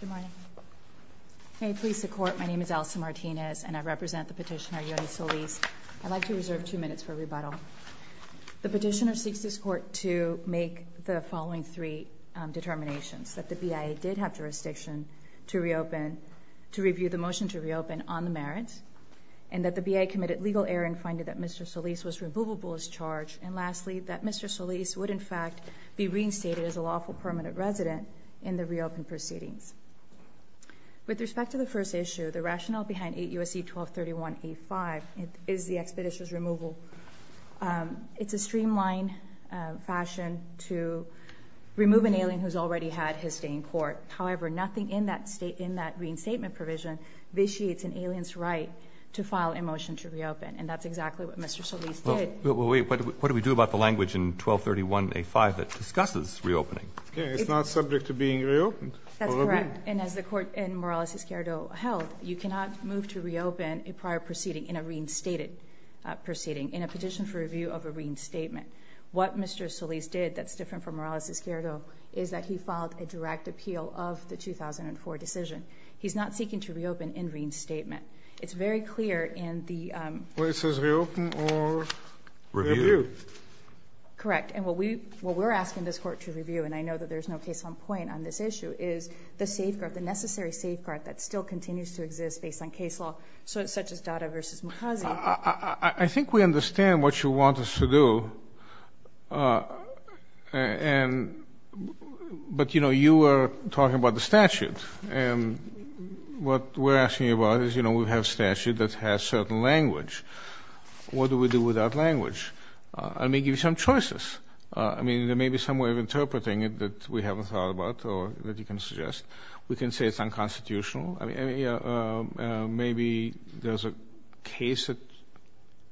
Good morning. May it please the Court, my name is Elsa Martinez, and I represent the petitioner Yoni Solis. I'd like to reserve two minutes for rebuttal. The petitioner seeks this Court to make the following three determinations, that the BIA did have jurisdiction to review the motion to reopen on the merits, and that the BIA committed legal error in finding that Mr. Solis would, in fact, be reinstated as a lawful permanent resident in the reopened proceedings. With respect to the first issue, the rationale behind 8 U.S.C. 1231A5 is the expeditious removal. It's a streamlined fashion to remove an alien who's already had his stay in court. However, nothing in that reinstatement provision vitiates an alien's right to file a motion to reopen, and that's exactly what Mr. Solis did. Well, wait, what do we do about the language in 1231A5 that discusses reopening? It's not subject to being reopened. That's correct. And as the Court in Morales-Esquerdo held, you cannot move to reopen a prior proceeding in a reinstated proceeding in a petition for review of a reinstatement. What Mr. Solis did that's different from Morales-Esquerdo is that he filed a direct appeal of the 2004 decision. He's not seeking to reopen in reinstatement. It's very clear in the Well, it says reopen or review. Correct. And what we're asking this Court to review, and I know that there's no case-on-point on this issue, is the safeguard, the necessary safeguard that still continues to exist based on case law, such as Dada v. Mukazi. I think we understand what you want us to do. But, you know, you were talking about the statute. And what we're asking about is, you know, we have a statute that has certain language. What do we do without language? It may give you some choices. I mean, there may be some way of interpreting it that we haven't thought about or that you can suggest. We can say it's unconstitutional. I mean, maybe there's a case that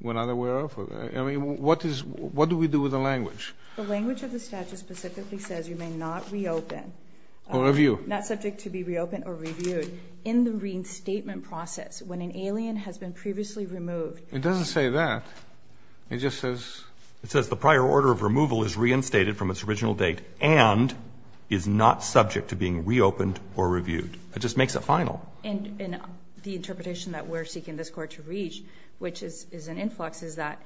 we're not aware of. I mean, what do we do with the language? The language of the statute specifically says you may not reopen. Or review. Not subject to be reopened or reviewed. In the reinstatement process, when an alien has been previously removed. It doesn't say that. It just says. It says the prior order of removal is reinstated from its original date and is not subject to being reopened or reviewed. It just makes it final. And the interpretation that we're seeking this Court to reach, which is an influx, is that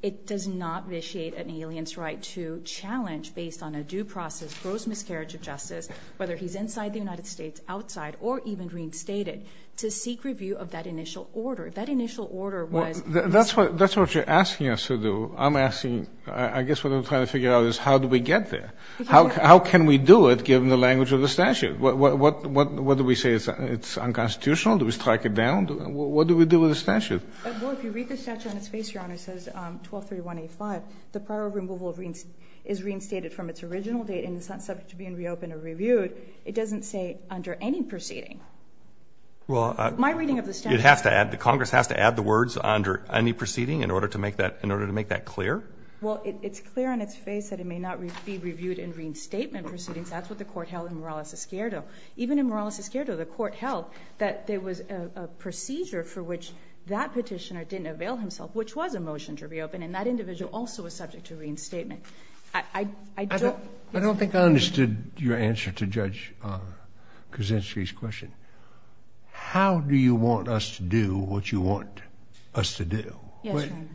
it does not vitiate an alien's right to challenge, based on a due process, gross miscarriage of justice, whether he's inside the United States, outside, or even reinstated, to seek review of that initial order. That initial order was. Well, that's what you're asking us to do. I'm asking, I guess what I'm trying to figure out is how do we get there? How can we do it, given the language of the statute? What do we say? It's unconstitutional? Do we strike it down? What do we do with the Well, if you read the statute on its face, Your Honor, it says 1231A5, the prior order of removal is reinstated from its original date and is not subject to being reopened or reviewed. It doesn't say under any proceeding. Well, it has to add, Congress has to add the words under any proceeding in order to make that clear? Well, it's clear on its face that it may not be reviewed in reinstatement proceedings. That's what the Court held in Morales-Escuerdo. Even in Morales-Escuerdo, the Court held that there was a procedure for which that petitioner didn't avail himself, which was a motion to reopen, and that individual also was subject to reinstatement. I don't think I understood your answer to Judge Kuczynski's question. How do you want us to do what you want us to do? Yes, Your Honor.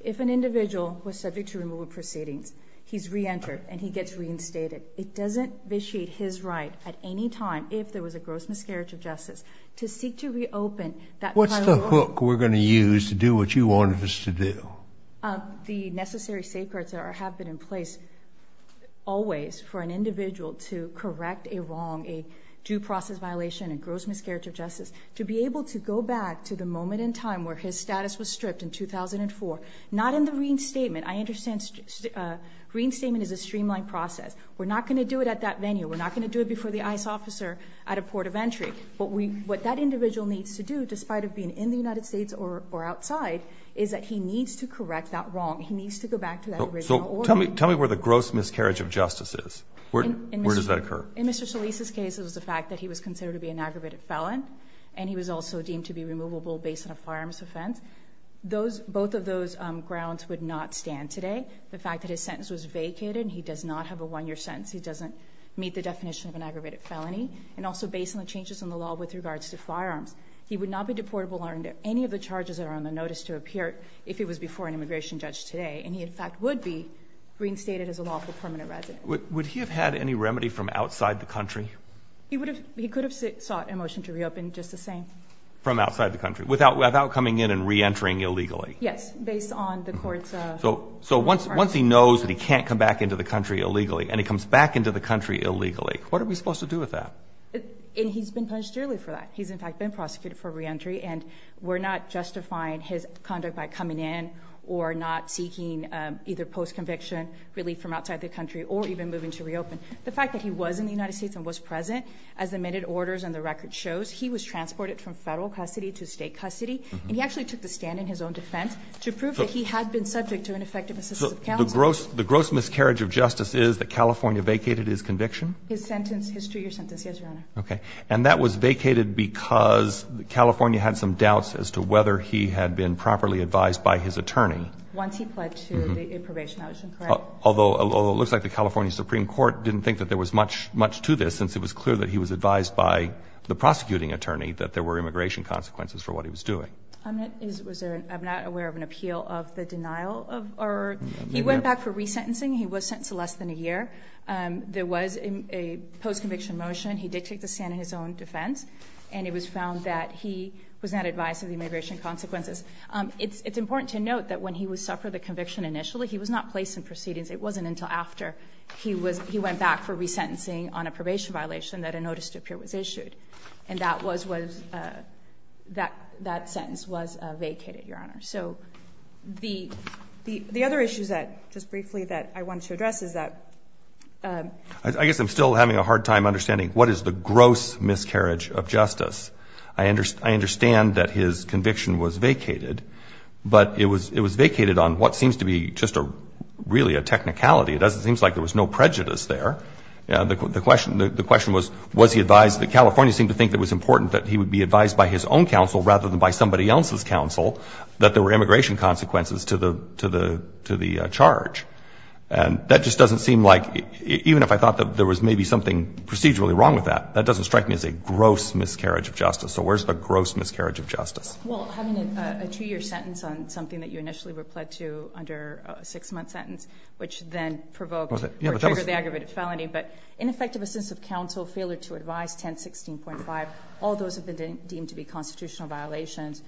If an individual was subject to removal proceedings, he's reentered and he gets reinstated. It doesn't vitiate his right at any time, if there was a gross miscarriage of justice, to seek to reopen that prior order. What book are we going to use to do what you want us to do? The necessary safeguards have been in place always for an individual to correct a wrong, a due process violation, a gross miscarriage of justice, to be able to go back to the moment in time where his status was stripped in 2004. Not in the reinstatement. I understand reinstatement is a streamlined process. We're not going to do it at that venue. We're not going to do it before the ICE officer at a port of entry. What that individual needs to do, despite of being in the United States or outside, is that he needs to correct that wrong. He needs to go back to that original order. Tell me where the gross miscarriage of justice is. Where does that occur? In Mr. Solis' case, it was the fact that he was considered to be an aggravated felon and he was also deemed to be removable based on a firearms offense. Both of those grounds would not stand today. The fact that his sentence was vacated and he does not have a one-year sentence, he doesn't meet the definition of an aggravated felony. And also based on the changes in the law with regards to firearms, he would not be deportable under any of the charges that are on the notice to appear if he was before an immigration judge today. And he, in fact, would be reinstated as a lawful permanent resident. Would he have had any remedy from outside the country? He could have sought a motion to reopen just the same. From outside the country, without coming in and reentering illegally? Yes, based on the court's requirements. So once he knows that he can't come back into the country illegally and he comes back into the country illegally, what are we supposed to do with that? And he's been punished dearly for that. He's, in fact, been prosecuted for reentry and we're not justifying his conduct by coming in or not seeking either post-conviction relief from outside the country or even moving to reopen. The fact that he was in the United States and was present, as the minute orders and the record shows, he was transported from Federal custody to State custody. And he actually took the stand in his own defense to prove that he had been subject to ineffective assistance of counsel. The gross miscarriage of justice is that California vacated his conviction? His sentence, history or sentence, yes, Your Honor. Okay. And that was vacated because California had some doubts as to whether he had been properly advised by his attorney. Once he pled to the probation, that was incorrect. Although it looks like the California Supreme Court didn't think that there was much to this since it was clear that he was advised by the prosecuting attorney that there were immigration consequences for what he was doing. I'm not aware of an appeal of the denial of or he went back for resentencing. He was sentenced to less than a year. There was a post-conviction motion. He did take the stand in his own defense and it was found that he was not advised of the immigration consequences. It's important to note that when he would suffer the conviction initially, he was not placed in proceedings. It wasn't until after he went back for resentencing on a probation violation that a notice to appear was vacated, Your Honor. So the other issues that, just briefly, that I wanted to address is that I guess I'm still having a hard time understanding what is the gross miscarriage of justice. I understand that his conviction was vacated, but it was vacated on what seems to be just a really a technicality. It seems like there was no prejudice there. The question was, was he advised? The Californians seemed to think it was important that he would be advised by his own counsel rather than by somebody else's counsel that there were immigration consequences to the charge. And that just doesn't seem like, even if I thought that there was maybe something procedurally wrong with that, that doesn't strike me as a gross miscarriage of justice. So where's the gross miscarriage of justice? Well, having a two-year sentence on something that you initially were pled to under a six-month sentence, which then provoked or triggered the aggravated felony, but ineffective assistance of counsel, failure to advise, 1016.5, all those have been deemed to be constitutional violations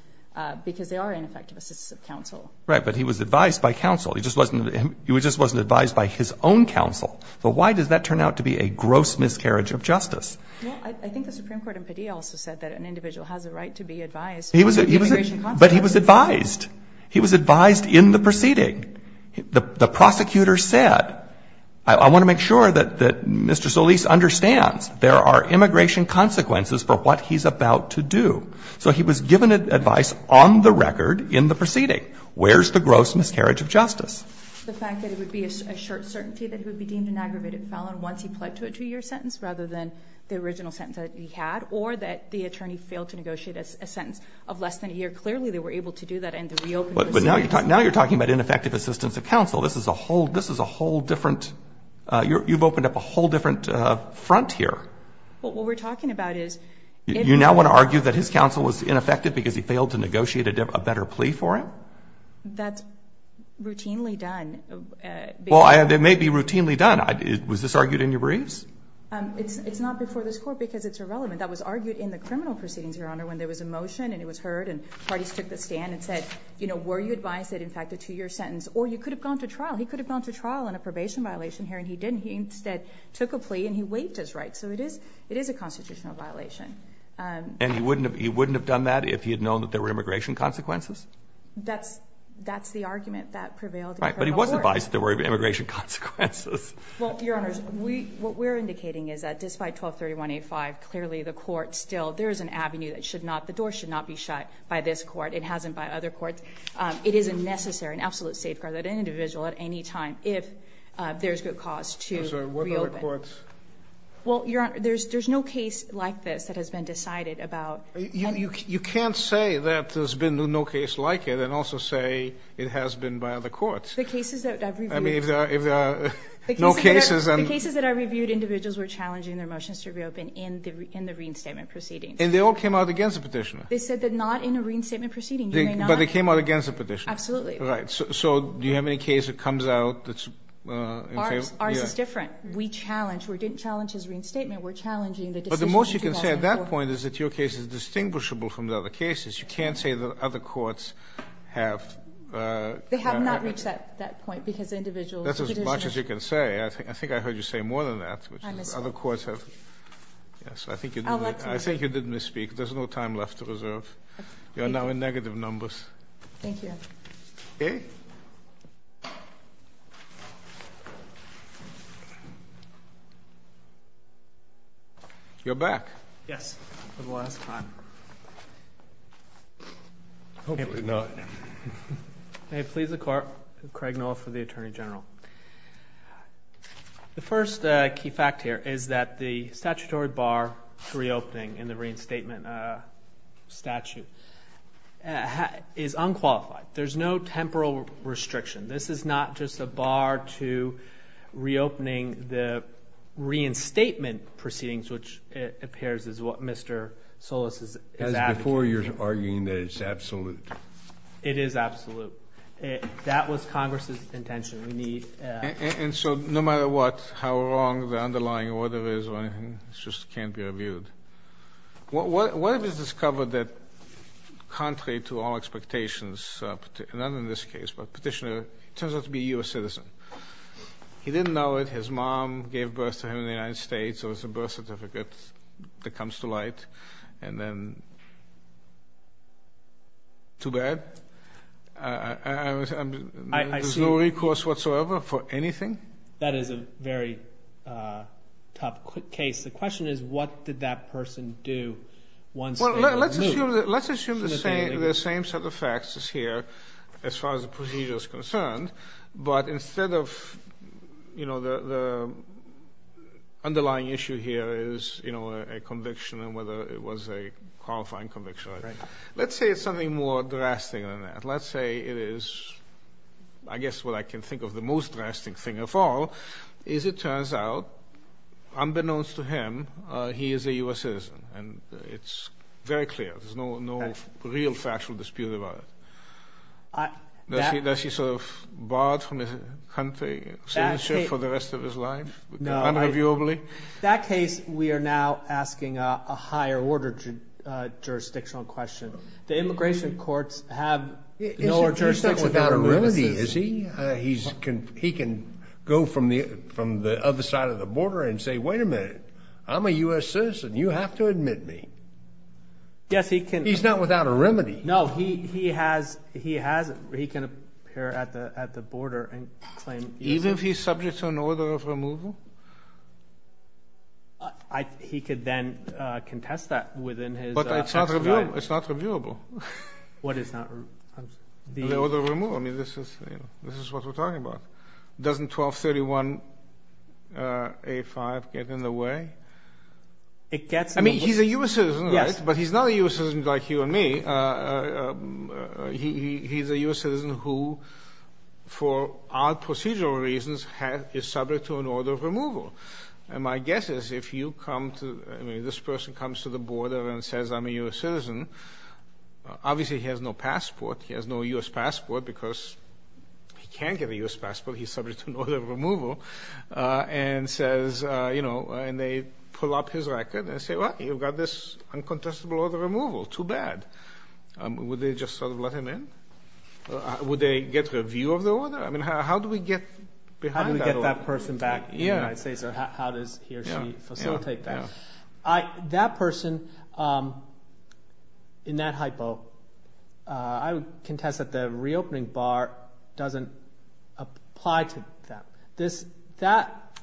because they are ineffective assistance of counsel. Right. But he was advised by counsel. He just wasn't advised by his own counsel. So why does that turn out to be a gross miscarriage of justice? Well, I think the Supreme Court in Padilla also said that an individual has a right to be advised. But he was advised. He was advised in the proceeding. The prosecutor said, I want to make sure that Mr. Solis understands there are So he was given advice on the record in the proceeding. Where's the gross miscarriage of justice? The fact that it would be a short certainty that he would be deemed an aggravated felon once he pled to a two-year sentence, rather than the original sentence that he had, or that the attorney failed to negotiate a sentence of less than a year. Clearly, they were able to do that and to reopen the proceedings. But now you're talking about ineffective assistance of counsel. This is a whole – this is a whole different – you've opened up a whole different front here. Well, what we're talking about is – You now want to argue that his counsel was ineffective because he failed to negotiate a better plea for him? That's routinely done. Well, it may be routinely done. Was this argued in your briefs? It's not before this Court because it's irrelevant. That was argued in the criminal proceedings, Your Honor, when there was a motion and it was heard and parties took the stand and said, you know, were you advised that in fact a two-year sentence – or you could have gone to trial. He could have gone to trial on a probation violation here and he didn't. He instead took a plea and he waived his right. So it is a constitutional violation. And he wouldn't have done that if he had known that there were immigration consequences? That's the argument that prevailed in criminal court. Right. But he was advised that there were immigration consequences. Well, Your Honors, what we're indicating is that despite 1231A5, clearly the court still – there is an avenue that should not – the door should not be shut by this court. It hasn't by other courts. It is a necessary and absolute safeguard that an individual at any time, if there's good cause, to reopen. By other courts. Well, Your Honor, there's no case like this that has been decided about – You can't say that there's been no case like it and also say it has been by other courts. The cases that I've reviewed – I mean, if there are no cases and – The cases that I've reviewed, individuals were challenging their motions to reopen in the Reen Statement proceedings. And they all came out against the Petitioner? They said that not in a Reen Statement proceeding. You may not – But they came out against the Petitioner? Absolutely. Right. So do you have any case that comes out that's – Ours is different. We challenge. We didn't challenge his Reen Statement. We're challenging the decision in 2004. But the most you can say at that point is that your case is distinguishable from the other cases. You can't say that other courts have – They have not reached that point because individuals – That's as much as you can say. I think I heard you say more than that. I misspoke. Other courts have – yes, I think you did misspeak. There's no time left to reserve. You are now in negative numbers. Thank you, Your Honor. Okay. You're back. Yes. For the last time. Hopefully not. May it please the Court. Craig Noah for the Attorney General. The first key fact here is that the statutory bar to reopening in the Reen Statement statute is unqualified. There's no temporal restriction. This is not just a bar to reopening the Reen Statement proceedings, which it appears is what Mr. Solis is advocating. That's before you're arguing that it's absolute. It is absolute. That was Congress's intention. We need – And so no matter what, how wrong the underlying order is or anything, it just can't be reviewed. What if it's discovered that contrary to all expectations – not in this case, but Petitioner turns out to be a U.S. citizen. He didn't know it. His mom gave birth to him in the United States. There was a birth certificate that comes to light. And then – too bad? There's no recourse whatsoever for anything? That is a very tough case. The question is what did that person do once they were removed? Well, let's assume the same set of facts is here as far as the procedure is concerned. But instead of – the underlying issue here is a conviction and whether it was a qualifying conviction. Let's say it's something more drastic than that. Let's say it is – I guess what I can think of the most drastic thing of all is it turns out unbeknownst to him, he is a U.S. citizen. And it's very clear. There's no real factual dispute about it. Does he sort of barred from his country, citizenship for the rest of his life? No. Unreviewably? That case we are now asking a higher order jurisdictional question. The immigration courts have – He's not without a remedy, is he? He can go from the other side of the border and say, wait a minute, I'm a U.S. citizen. You have to admit me. Yes, he can. He's not without a remedy. No, he has – he can appear at the border and claim – Even if he's subject to an order of removal? He could then contest that within his – But it's not reviewable. What is not – An order of removal. I mean, this is what we're talking about. Doesn't 1231A5 get in the way? It gets in the way. I mean, he's a U.S. citizen, right? Yes. But he's not a U.S. citizen like you and me. He's a U.S. citizen who, for odd procedural reasons, is subject to an order of removal. And my guess is if you come to – I mean, this person comes to the border and says, I'm a U.S. citizen, obviously he has no passport. He has no U.S. passport because he can't get a U.S. passport. He's subject to an order of removal. And says – and they pull up his record and say, well, you've got this uncontestable order of removal. Too bad. Would they just sort of let him in? Would they get review of the order? I mean, how do we get behind that? How do we get that person back in the United States or how does he or she facilitate that? That person, in that hypo, I would contest that the reopening bar doesn't apply to them. That is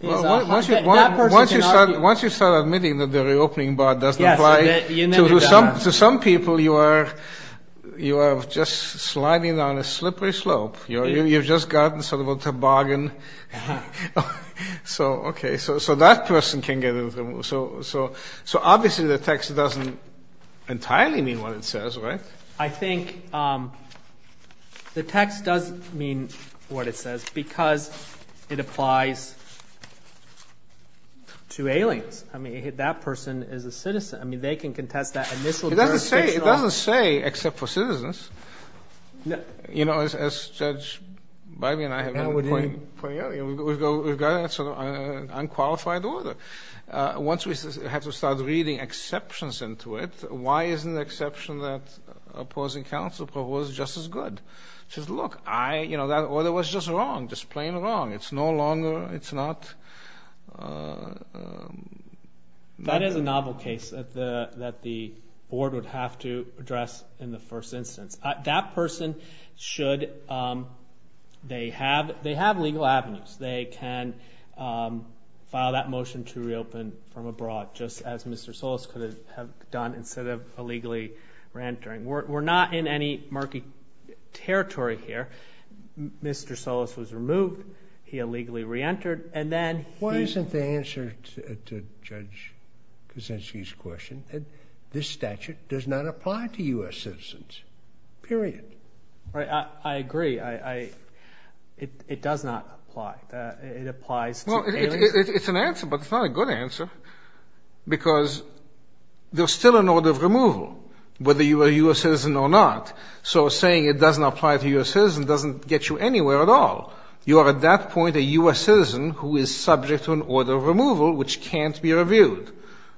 a hypo. Once you start admitting that the reopening bar doesn't apply to some people, you are just sliding down a slippery slope. You've just gotten sort of a toboggan. So, okay. So that person can get – so obviously the text doesn't entirely mean what it says, right? I think the text does mean what it says because it applies to aliens. I mean, that person is a citizen. I mean, they can contest that initial jurisdiction. It doesn't say except for citizens. You know, as Judge Bybee and I have been pointing out, we've got an unqualified order. Once we have to start reading exceptions into it, why isn't the exception that opposing counsel proposed just as good? She says, look, I – you know, that order was just wrong, just plain wrong. It's no longer – it's not – That is a novel case that the board would have to address in the first instance. That person should – they have legal avenues. They can file that motion to reopen from abroad just as Mr. Solis could have done instead of illegally reentering. We're not in any murky territory here. Mr. Solis was removed. He illegally reentered. Why isn't the answer to Judge Kuczynski's question that this statute does not apply to U.S. citizens, period? I agree. It does not apply. It applies to aliens. Well, it's an answer, but it's not a good answer because there's still an order of removal whether you are a U.S. citizen or not. So saying it doesn't apply to U.S. citizens doesn't get you anywhere at all. You are at that point a U.S. citizen who is subject to an order of removal which can't be reviewed,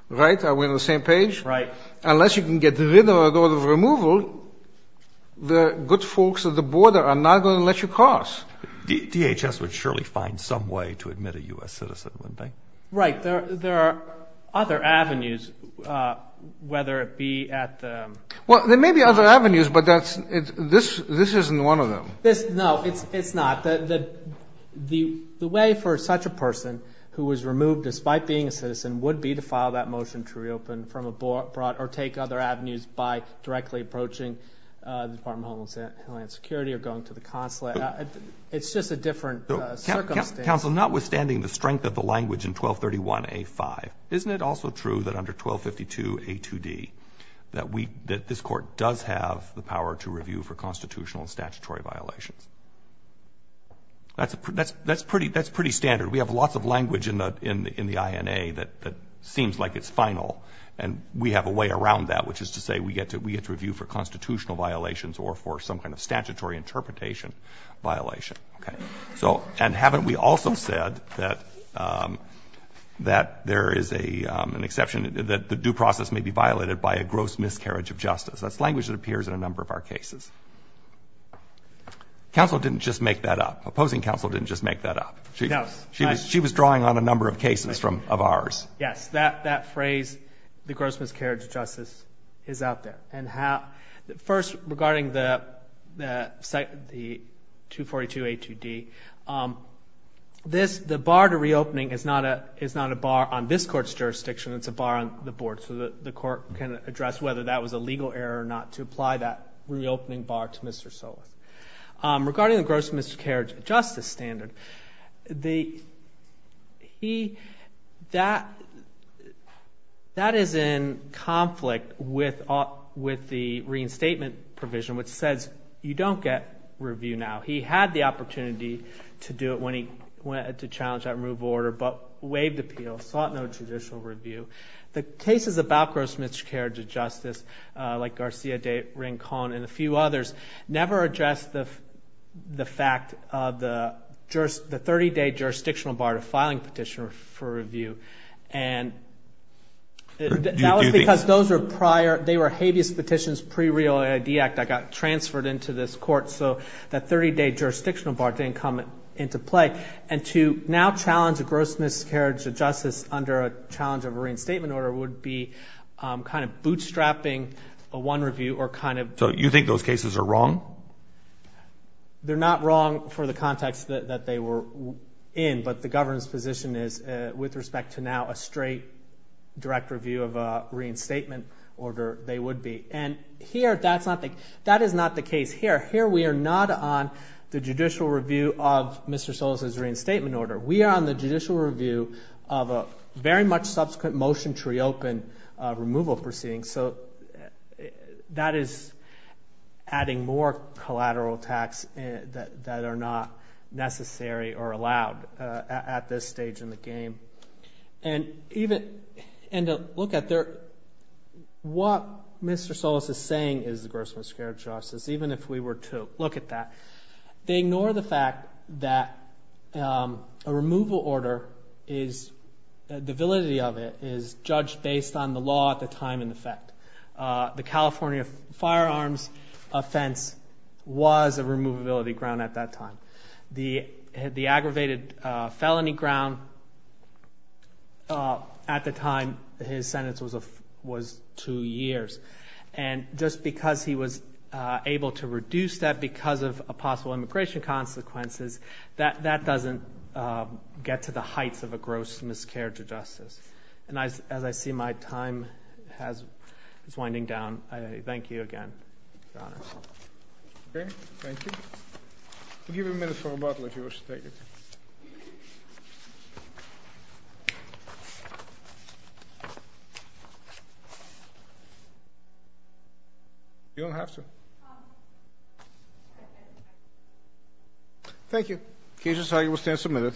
right? Are we on the same page? Right. Unless you can get rid of an order of removal, the good folks at the border are not going to let you cross. DHS would surely find some way to admit a U.S. citizen, wouldn't they? Right. There are other avenues, whether it be at the – Well, there may be other avenues, but that's – this isn't one of them. No, it's not. The way for such a person who was removed despite being a citizen would be to file that motion to reopen from abroad or take other avenues by directly approaching the Department of Homeland Security or going to the consulate. It's just a different circumstance. Counsel, notwithstanding the strength of the language in 1231a-5, isn't it also true that under 1252a-2d that we – That's pretty standard. We have lots of language in the INA that seems like it's final, and we have a way around that, which is to say we get to review for constitutional violations or for some kind of statutory interpretation violation. Okay. So – and haven't we also said that there is an exception, that the due process may be violated by a gross miscarriage of justice? That's language that appears in a number of our cases. Counsel didn't just make that up. Opposing counsel didn't just make that up. No. She was drawing on a number of cases from – of ours. Yes. That phrase, the gross miscarriage of justice, is out there. And first, regarding the 242a-2d, this – the bar to reopening is not a bar on this Court's jurisdiction. It's a bar on the Board so that the Court can address whether that was a legal error or not to apply that reopening bar to Mr. Solis. Regarding the gross miscarriage of justice standard, the – he – that – that is in conflict with the reinstatement provision, which says you don't get review now. He had the opportunity to do it when he went to challenge that removal order, but waived appeal, sought no judicial review. The cases about gross miscarriage of justice, like Garcia de Rincon and a few others, never addressed the fact of the 30-day jurisdictional bar to filing petition for review. And that was because those were prior – they were habeas petitions pre-real ID Act that got transferred into this Court. So that 30-day jurisdictional bar didn't come into play. And to now challenge a gross miscarriage of justice under a challenge of a reinstatement order would be kind of bootstrapping a one review or kind of – So you think those cases are wrong? They're not wrong for the context that they were in, but the government's position is, with respect to now a straight direct review of a reinstatement order, they would be. And here that's not the – that is not the case here. Here we are not on the judicial review of Mr. Solis's reinstatement order. We are on the judicial review of a very much subsequent motion to reopen removal proceedings. So that is adding more collateral tax that are not necessary or allowed at this stage in the game. And even – and to look at their – what Mr. Solis is saying is the gross miscarriage of justice, even if we were to look at that. They ignore the fact that a removal order is – the validity of it is judged based on the law at the time in effect. The California firearms offense was a removability ground at that time. The aggravated felony ground at the time his sentence was two years. And just because he was able to reduce that because of possible immigration consequences, that doesn't get to the heights of a gross miscarriage of justice. And as I see my time has – is winding down, I thank you again, Your Honors. Okay, thank you. We'll give you a minute for rebuttal if you wish to take it. You don't have to. Thank you. Cases, I will stand submitted.